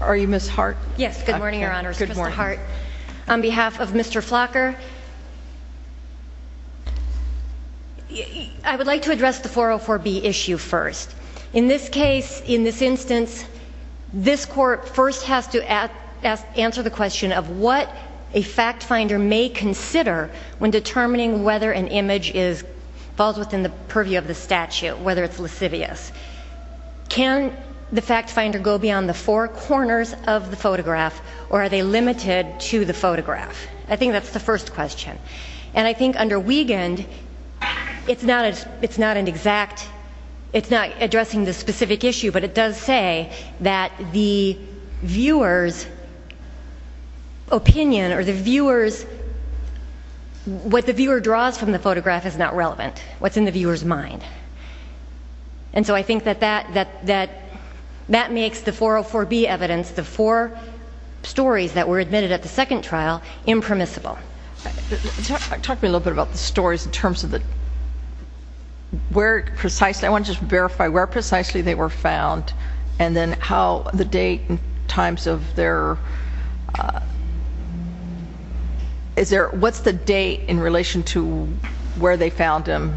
Are you Ms. Hart? Yes, good morning your honors. Good morning. Mr. Hart, on behalf of Mr. Flocker, I would like to address the 404B issue first. In this case, in this instance, this court first has to answer the question of what a fact finder may consider when determining whether an image falls within the purview of the statute, whether it's lascivious. Can the fact finder go beyond the four corners of the photograph or are they limited to the photograph? I think that's the first question. And I think under Wiegand, it's not an exact, it's not addressing the specific issue but it does say that the viewer's opinion or the viewer's, what the viewer draws from the photograph is not relevant, what's in the viewer's mind. And so I think that that makes the 404B evidence, the four stories that were admitted at the second trial, impermissible. Talk to me a little bit about the stories in terms of where precisely, I want to just verify where precisely they were found and then how the date and times of their, what's the date in relation to where they found them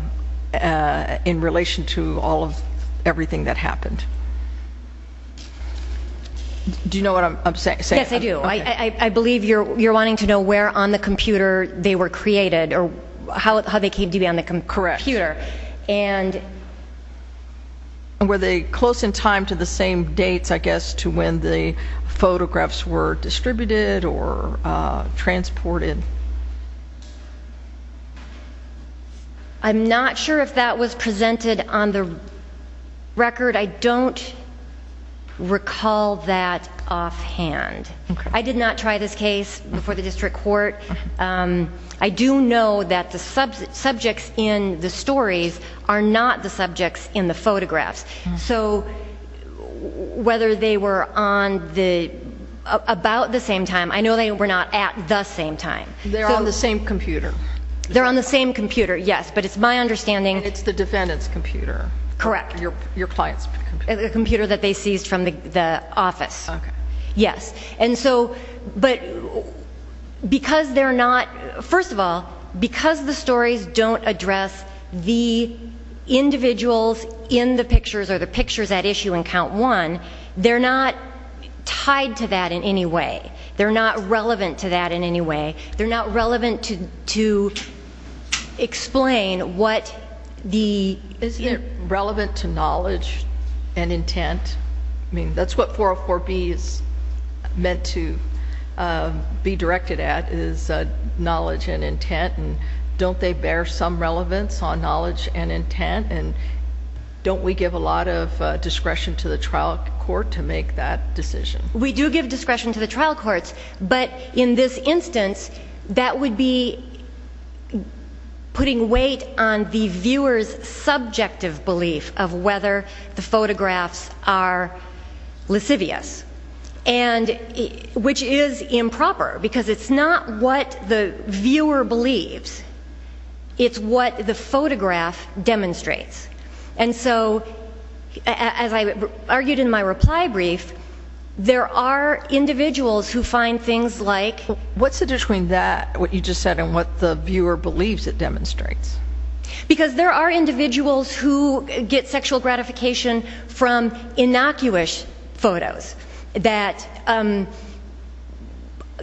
in relation to all of everything that happened? Do you know what I'm saying? Yes, I do. I believe you're wanting to know where on the computer they were created or how they came to be on the computer. And were they close in time to the same dates, I guess, to when the photographs were distributed or transported? I'm not sure if that was presented on the record. I don't recall that offhand. I did not try this case before the district court. I do know that the subjects in the stories are not the subjects in the photographs. So whether they were on the, about the same time, I know they were not at the same time. They're on the same computer. They're on the same computer, yes. But it's my understanding. And it's the defendant's computer. Correct. Your client's computer. A computer that they seized from the office. Okay. Yes. And so, but because they're not, first of all, because the stories don't address the individuals in the pictures or the pictures at issue in count one, they're not tied to that in any way. They're not relevant to that in any way. They're not relevant to explain what the... Isn't it relevant to knowledge and intent? I mean, that's what 404B is meant to be directed at, is knowledge and intent, and don't they bear some relevance on knowledge and intent, and don't we give a lot of discretion to the trial court to make that decision? We do give discretion to the trial courts, but in this instance, that would be putting weight on the viewer's subjective belief of whether the photographs are lascivious, and which is improper, because it's not what the viewer believes. It's what the photograph demonstrates. And so, as I argued in my reply brief, there are individuals who find things like... What's the difference between that, what you just said, and what the viewer believes it demonstrates? Because there are individuals who get sexual gratification from innocuous photos that,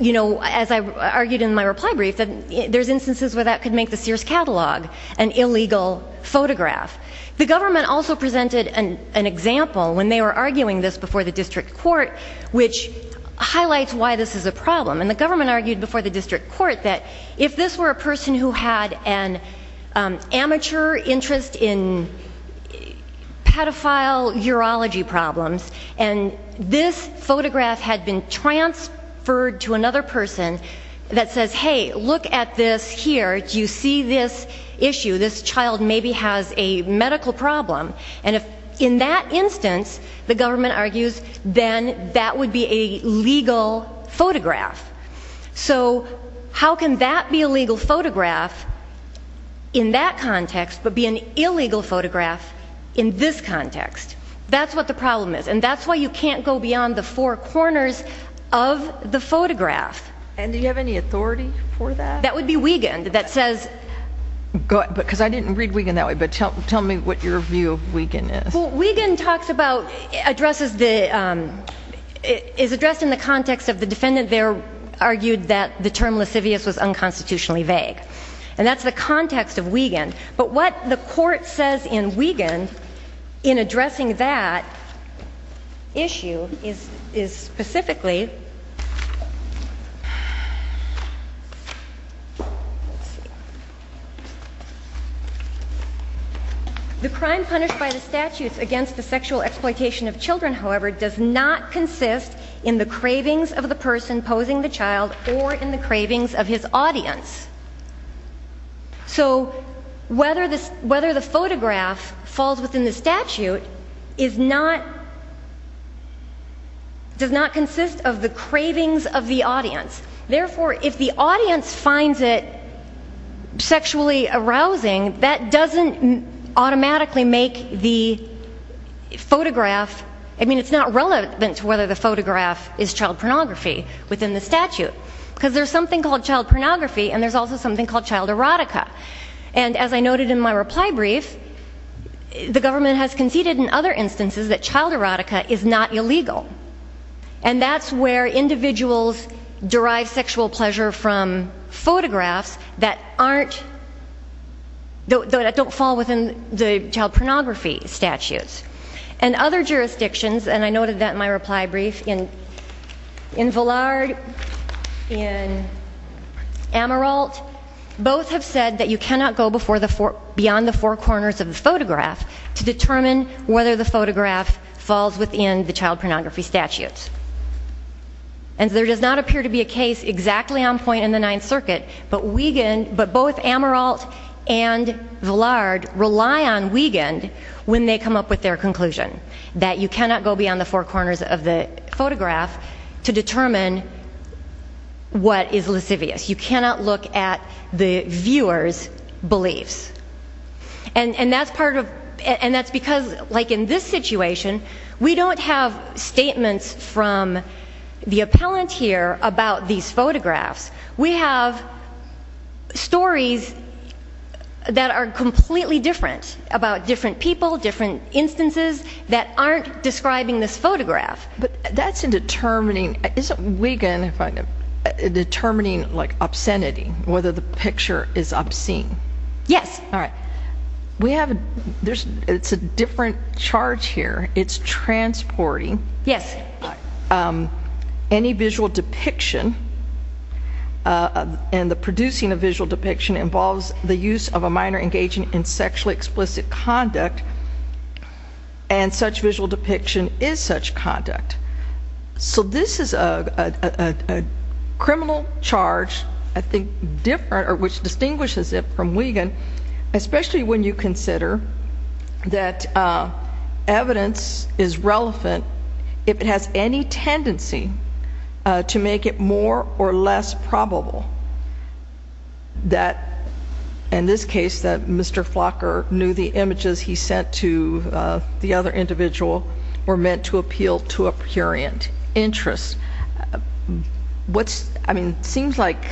you know, as I argued in my reply brief, there's instances where that could make the Sears catalog an illegal photograph. The government also presented an example when they were arguing this before the district court, which highlights why this is a problem, and the government argued before the district court that if this were a person who had an amateur interest in pedophile urology problems, and this photograph had been transferred to another person that says, hey, look at this here, do you see this issue? This child maybe has a medical problem. And if in that instance, the government argues, then that would be a legal photograph. So, how can that be a legal photograph in that context, but be an illegal photograph in this context? That's what the problem is. And that's why you can't go beyond the four corners of the photograph. And do you have any authority for that? That would be Wiegand, that says... Because I didn't read Wiegand that way, but tell me what your view of Wiegand is. Well, Wiegand is addressed in the context of the defendant there argued that the term lascivious was unconstitutionally vague. And that's the context of Wiegand. But what the court says in Wiegand in addressing that issue is specifically... Lasciviousness against the sexual exploitation of children, however, does not consist in the cravings of the person posing the child or in the cravings of his audience. So whether the photograph falls within the statute does not consist of the cravings of the audience. Therefore, if the audience finds it sexually arousing, that doesn't automatically make the photograph... I mean, it's not relevant to whether the photograph is child pornography within the statute. Because there's something called child pornography and there's also something called child erotica. And as I noted in my reply brief, the government has conceded in other instances that child erotica is not illegal. And that's where individuals derive sexual pleasure from photographs that don't fall within the child pornography statutes. And other jurisdictions, and I noted that in my reply brief, in Vallard, in Amaralt, both have said that you cannot go beyond the four corners of the photograph to determine whether the photograph falls within the child pornography statutes. And there does not appear to be a case exactly on point in the Ninth Circuit, but both Amaralt and Vallard rely on Wiegand when they come up with their conclusion. That you cannot go beyond the four corners of the photograph to determine what is lascivious. You cannot look at the viewer's beliefs. And that's because, like in this situation, we don't have statements from the appellant here about these photographs. We have stories that are completely different about different people, different instances that aren't describing this photograph. But that's in determining, isn't Wiegand in determining obscenity, whether the picture is obscene? Yes. All right. We have, there's, it's a different charge here. It's transporting any visual depiction, and the producing of visual depiction involves the use of a minor engaging in sexually explicit conduct. And such visual depiction is such conduct. So this is a criminal charge, I think, different, or which distinguishes it from Wiegand, especially when you consider that evidence is relevant if it has any tendency to make it more or less probable that, in this case, that Mr. Flocker knew the images he sent to the other individual were meant to appeal to a prurient interest. What's, I mean, it seems like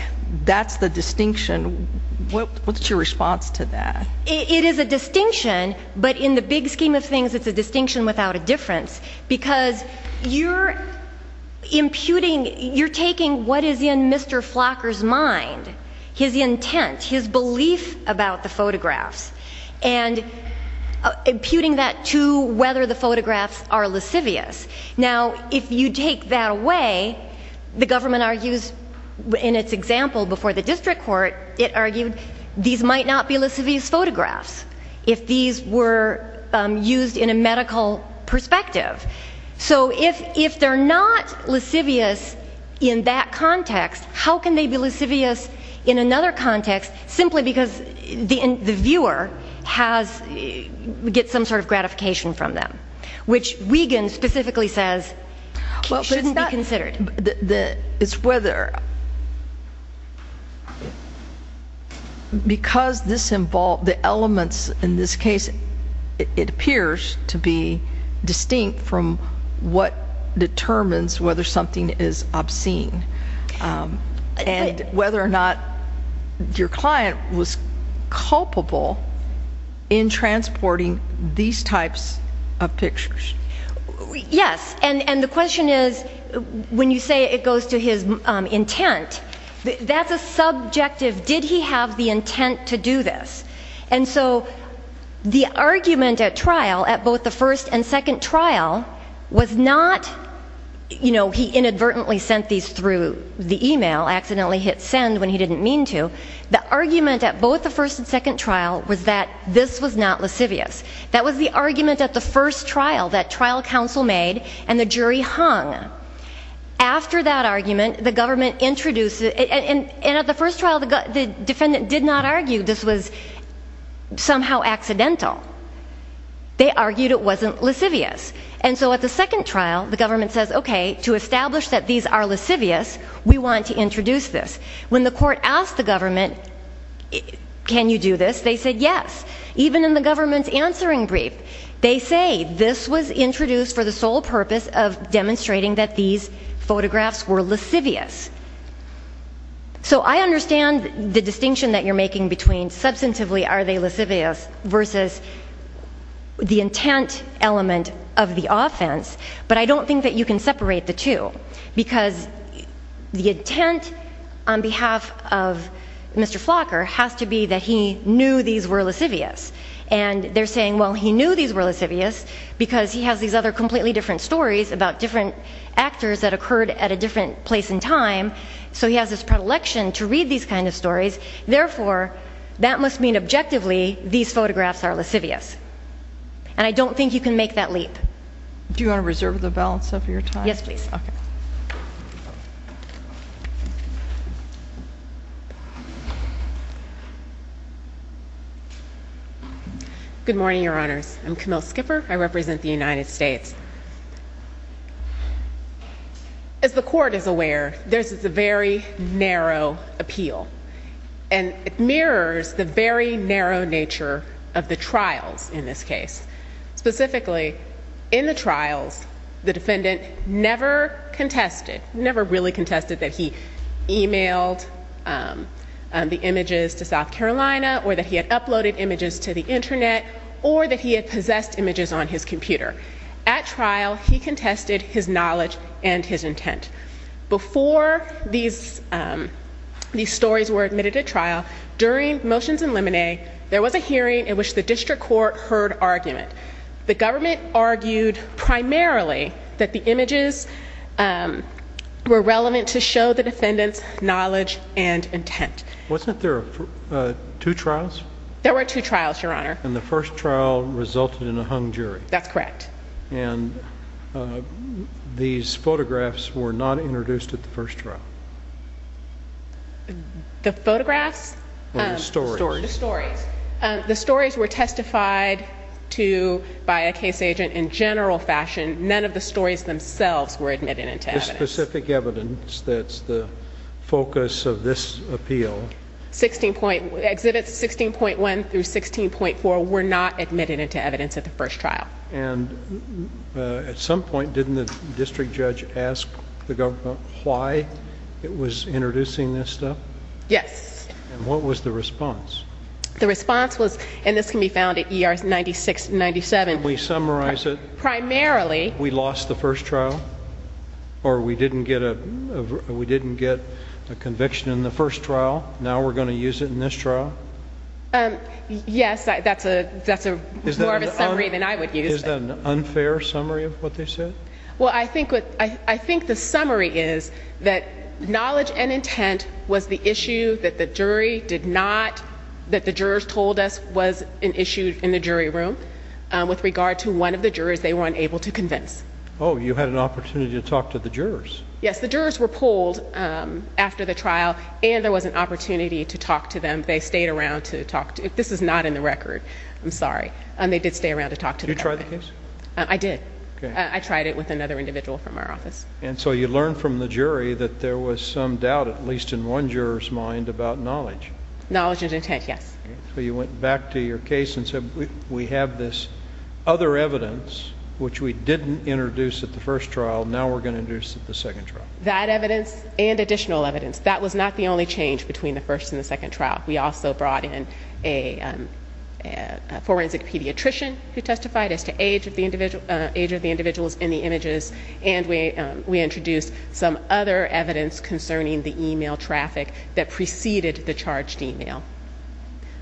that's the distinction. What's your response to that? It is a distinction, but in the big scheme of things, it's a distinction without a difference. Because you're imputing, you're taking what is in Mr. Flocker's mind, his intent, his the photographs are lascivious. Now, if you take that away, the government argues in its example before the district court, it argued these might not be lascivious photographs if these were used in a medical perspective. So if, if they're not lascivious in that context, how can they be lascivious in another context simply because the viewer has, gets some sort of gratification from them, which Wiegand specifically says shouldn't be considered. It's whether, because this involve, the elements in this case, it appears to be distinct from what determines whether something is obscene, and whether or not your client was culpable in transporting these types of pictures. Yes, and the question is, when you say it goes to his intent, that's a subjective, did he have the intent to do this? And so the argument at trial, at both the first and second trial, was not, you know, he inadvertently sent these through the email, accidentally hit send when he didn't mean to. The argument at both the first and second trial was that this was not lascivious. That was the argument at the first trial that trial counsel made, and the jury hung. After that argument, the government introduced, and at the first trial, the defendant did not argue this was somehow accidental. They argued it wasn't lascivious. And so at the second trial, the government says, okay, to establish that these are lascivious, we want to introduce this. When the court asked the government, can you do this, they said yes. Even in the government's answering brief, they say this was introduced for the sole purpose of demonstrating that these photographs were lascivious. So I understand the distinction that you're making between substantively are they lascivious versus the intent element of the offense, but I don't think that you can separate the two because the intent on behalf of Mr. Flocker has to be that he knew these were lascivious. And they're saying, well, he knew these were lascivious because he has these other completely different stories about different actors that occurred at a different place in time, so he has this predilection to read these kind of stories, therefore, that must mean objectively these photographs are lascivious. And I don't think you can make that leap. Do you want to reserve the balance of your time? Yes, please. Okay. Good morning, Your Honors. I'm Camille Skipper. I represent the United States. As the court is aware, this is a very narrow appeal, and it mirrors the very narrow nature of the trials in this case. Specifically, in the trials, the defendant never contested, never really contested that he emailed the images to South Carolina or that he had uploaded images to the internet or that he had possessed images on his computer. At trial, he contested his knowledge and his intent. Before these stories were admitted to trial, during motions and limine, there was a hearing in which the district court heard argument. The government argued primarily that the images were relevant to show the defendant's knowledge and intent. There were two trials, Your Honor. And the first trial resulted in a hung jury. That's correct. And these photographs were not introduced at the first trial. The photographs? Or the stories. The stories. The stories. The stories were testified to by a case agent in general fashion. None of the stories themselves were admitted into evidence. The specific evidence that's the focus of this appeal. Exhibits 16.1 through 16.4 were not admitted into evidence at the first trial. At some point, didn't the district judge ask the government why it was introducing this stuff? Yes. And what was the response? The response was, and this can be found at ER 96 and 97. Can we summarize it? Primarily. We lost the first trial? Or we didn't get a conviction in the first trial? Now we're going to use it in this trial? Yes. That's more of a summary than I would use. Is that an unfair summary of what they said? Well, I think the summary is that knowledge and intent was the issue that the jury did not, that the jurors told us was an issue in the jury room with regard to one of the evidence. Oh, you had an opportunity to talk to the jurors? Yes. The jurors were pulled after the trial, and there was an opportunity to talk to them. They stayed around to talk to... this is not in the record. I'm sorry. They did stay around to talk to the government. Did you try the case? I did. Okay. I tried it with another individual from our office. And so you learned from the jury that there was some doubt, at least in one juror's mind, about knowledge? Knowledge and intent, yes. Okay. So you went back to your case and said, we have this other evidence, which we didn't introduce at the first trial, now we're going to introduce at the second trial. That evidence and additional evidence, that was not the only change between the first and the second trial. We also brought in a forensic pediatrician who testified as to age of the individuals in the images, and we introduced some other evidence concerning the email traffic that preceded the charged email.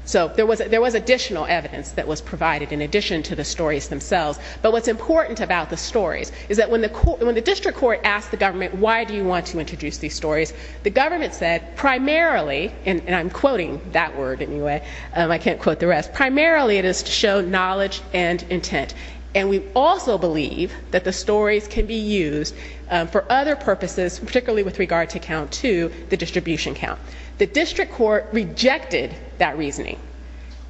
So there was additional evidence that was provided in addition to the stories themselves. But what's important about the stories is that when the district court asked the government, why do you want to introduce these stories, the government said, primarily—and I'm quoting that word anyway, I can't quote the rest—primarily it is to show knowledge and intent. And we also believe that the stories can be used for other purposes, particularly with regard to count two, the distribution count. The district court rejected that reasoning.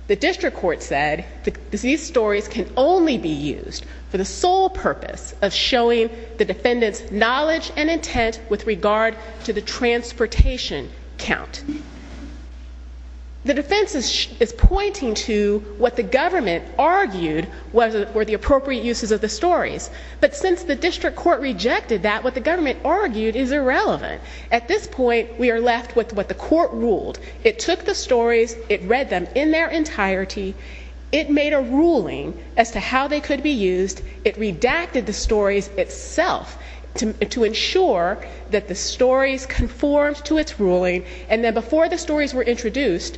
The district court said that these stories can only be used for the sole purpose of showing the defendant's knowledge and intent with regard to the transportation count. The defense is pointing to what the government argued were the appropriate uses of the stories. But since the district court rejected that, what the government argued is irrelevant. At this point, we are left with what the court ruled. It took the stories, it read them in their entirety, it made a ruling as to how they could be used, it redacted the stories itself to ensure that the stories conformed to its ruling, and then before the stories were introduced,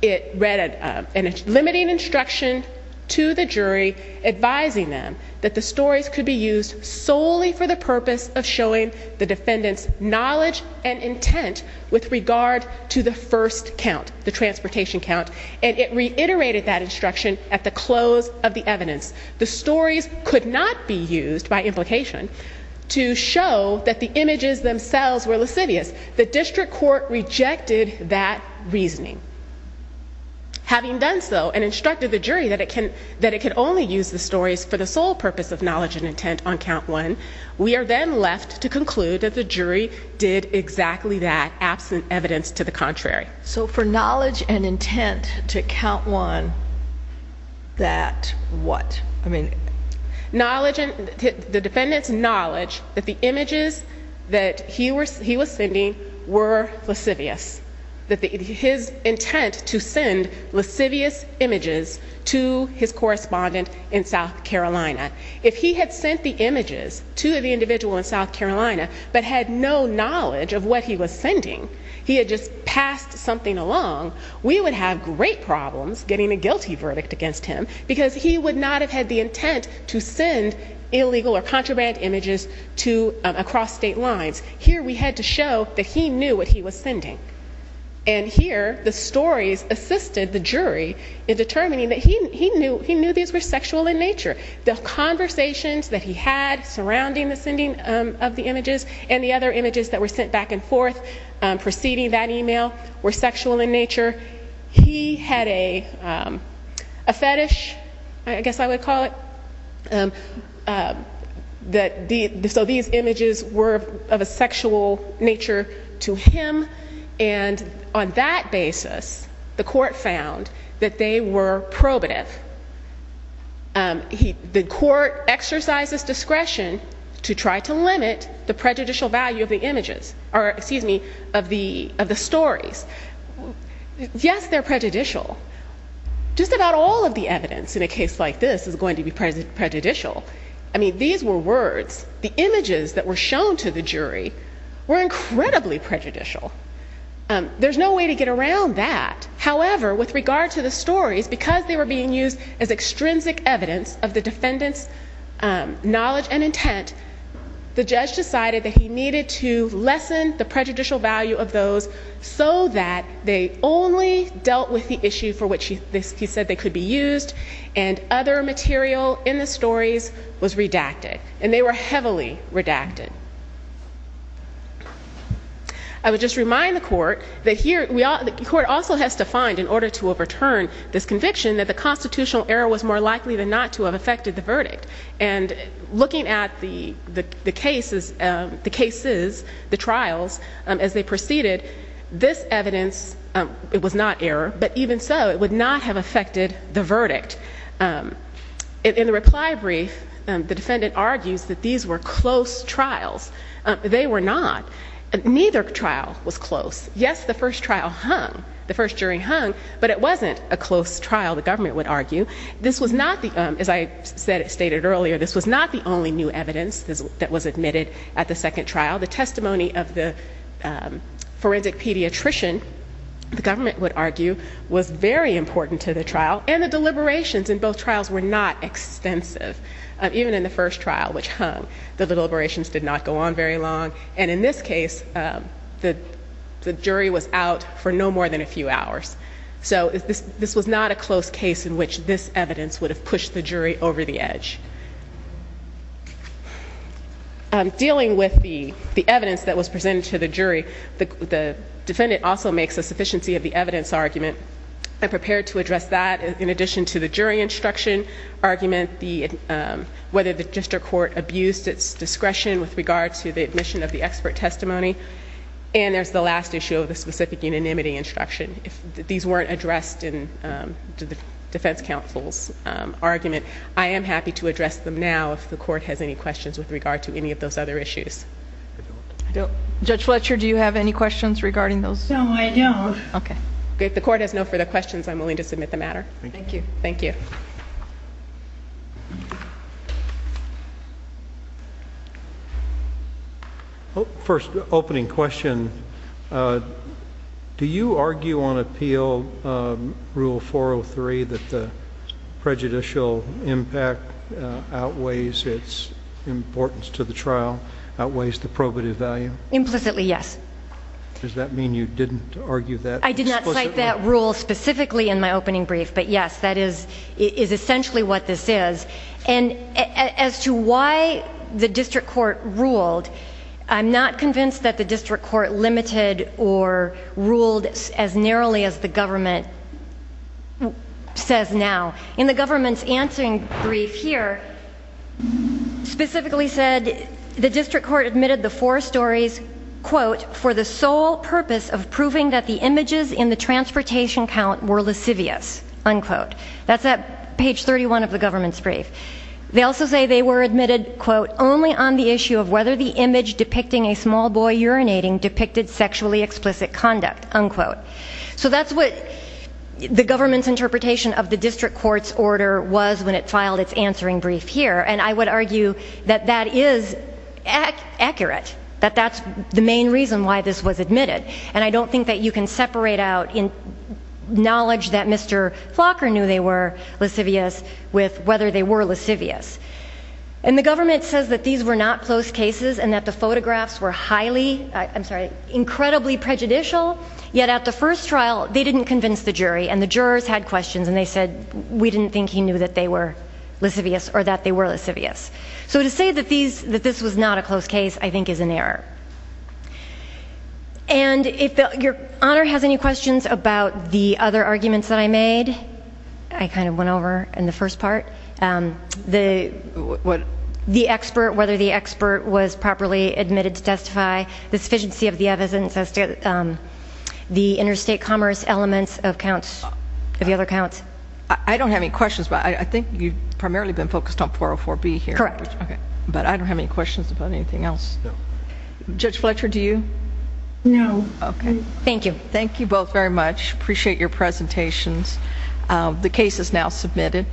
it read a limiting instruction to the jury advising them that the stories could be used solely for the purpose of showing the defendant's knowledge and intent with regard to the first count, the transportation count, and it reiterated that instruction at the close of the evidence. The stories could not be used, by implication, to show that the images themselves were lascivious. The district court rejected that reasoning. Having done so and instructed the jury that it can only use the stories for the sole purpose of knowledge and intent on count one, we are then left to conclude that the jury did exactly that, absent evidence to the contrary. So for knowledge and intent to count one, that what? The defendant's knowledge that the images that he was sending were lascivious. His intent to send lascivious images to his correspondent in South Carolina. If he had sent the images to the individual in South Carolina but had no knowledge of what he was sending, he had just passed something along, we would have great problems getting a guilty verdict against him because he would not have had the intent to send illegal or contraband images across state lines. Here we had to show that he knew what he was sending. And here, the stories assisted the jury in determining that he knew these were sexual in nature. The conversations that he had surrounding the sending of the images and the other images that were sent back and forth preceding that email were sexual in nature. He had a fetish, I guess I would call it, that these images were of a sexual nature to him. And on that basis, the court found that they were probative. The court exercised its discretion to try to limit the prejudicial value of the images, or excuse me, of the stories. Yes, they're prejudicial. Just about all of the evidence in a case like this is going to be prejudicial. I mean, these were words. The images that were shown to the jury were incredibly prejudicial. There's no way to get around that. However, with regard to the stories, because they were being used as extrinsic evidence of the defendant's knowledge and intent, the judge decided that he needed to lessen the prejudicial value of those so that they only dealt with the issue for which he said they could be used and other material in the stories was redacted. And they were heavily redacted. I would just remind the court that the court also has to find, in order to overturn this conviction, that the constitutional error was more likely than not to have affected the verdict. And looking at the cases, the trials, as they proceeded, this evidence was not error, but even so, it would not have affected the verdict. In the reply brief, the defendant argues that these were close trials. They were not. Neither trial was close. Yes, the first trial hung, the first jury hung, but it wasn't a close trial, the government would argue. This was not, as I stated earlier, this was not the only new evidence that was admitted at the second trial. The testimony of the forensic pediatrician, the government would argue, was very important to the trial, and the deliberations in both trials were not extensive. Even in the first trial, which hung, the deliberations did not go on very long, and in this case, the jury was out for no more than a few hours. So this was not a close case in which this evidence would have pushed the jury over the edge. The defendant also makes a sufficiency of the evidence argument. I'm prepared to address that in addition to the jury instruction argument, whether the district court abused its discretion with regard to the admission of the expert testimony, and there's the last issue of the specific unanimity instruction. These weren't addressed in the defense counsel's argument. I am happy to address them now if the court has any questions with regard to any of those other issues. Judge Fletcher, do you have any questions regarding those? No, I don't. Okay. If the court has no further questions, I'm willing to submit the matter. Thank you. Thank you. First opening question, do you argue on appeal rule 403 that the prejudicial impact outweighs its importance to the trial, outweighs the probative value? Implicitly, yes. Does that mean you didn't argue that explicitly? I did not cite that rule specifically in my opening brief, but yes, that is essentially what this is. And as to why the district court ruled, I'm not convinced that the district court limited or ruled as narrowly as the government says now. In the government's answering brief here, specifically said the district court admitted the four stories for the sole purpose of proving that the images in the transportation count were lascivious. That's at page 31 of the government's brief. They also say they were admitted only on the issue of whether the image depicting a small boy urinating depicted sexually explicit conduct. So that's what the government's interpretation of the district court's order was when it filed its answering brief here. And I would argue that that is accurate, that that's the main reason why this was admitted. And I don't think that you can separate out knowledge that Mr. Flocker knew they were lascivious with whether they were lascivious. And the government says that these were not closed cases and that the photographs were highly, I'm sorry, incredibly prejudicial, yet at the first trial they didn't convince the jury and the jurors had questions and they said we didn't think he knew that they were lascivious or that they were lascivious. So to say that this was not a closed case I think is an error. And if Your Honor has any questions about the other arguments that I made, I kind of went over in the first part, the interstate commerce elements of the other counts. I don't have any questions, but I think you've primarily been focused on 404B here. Correct. But I don't have any questions about anything else. Judge Fletcher, do you? No. Okay. Thank you. Thank you both very much. Appreciate your presentations. The case is now submitted.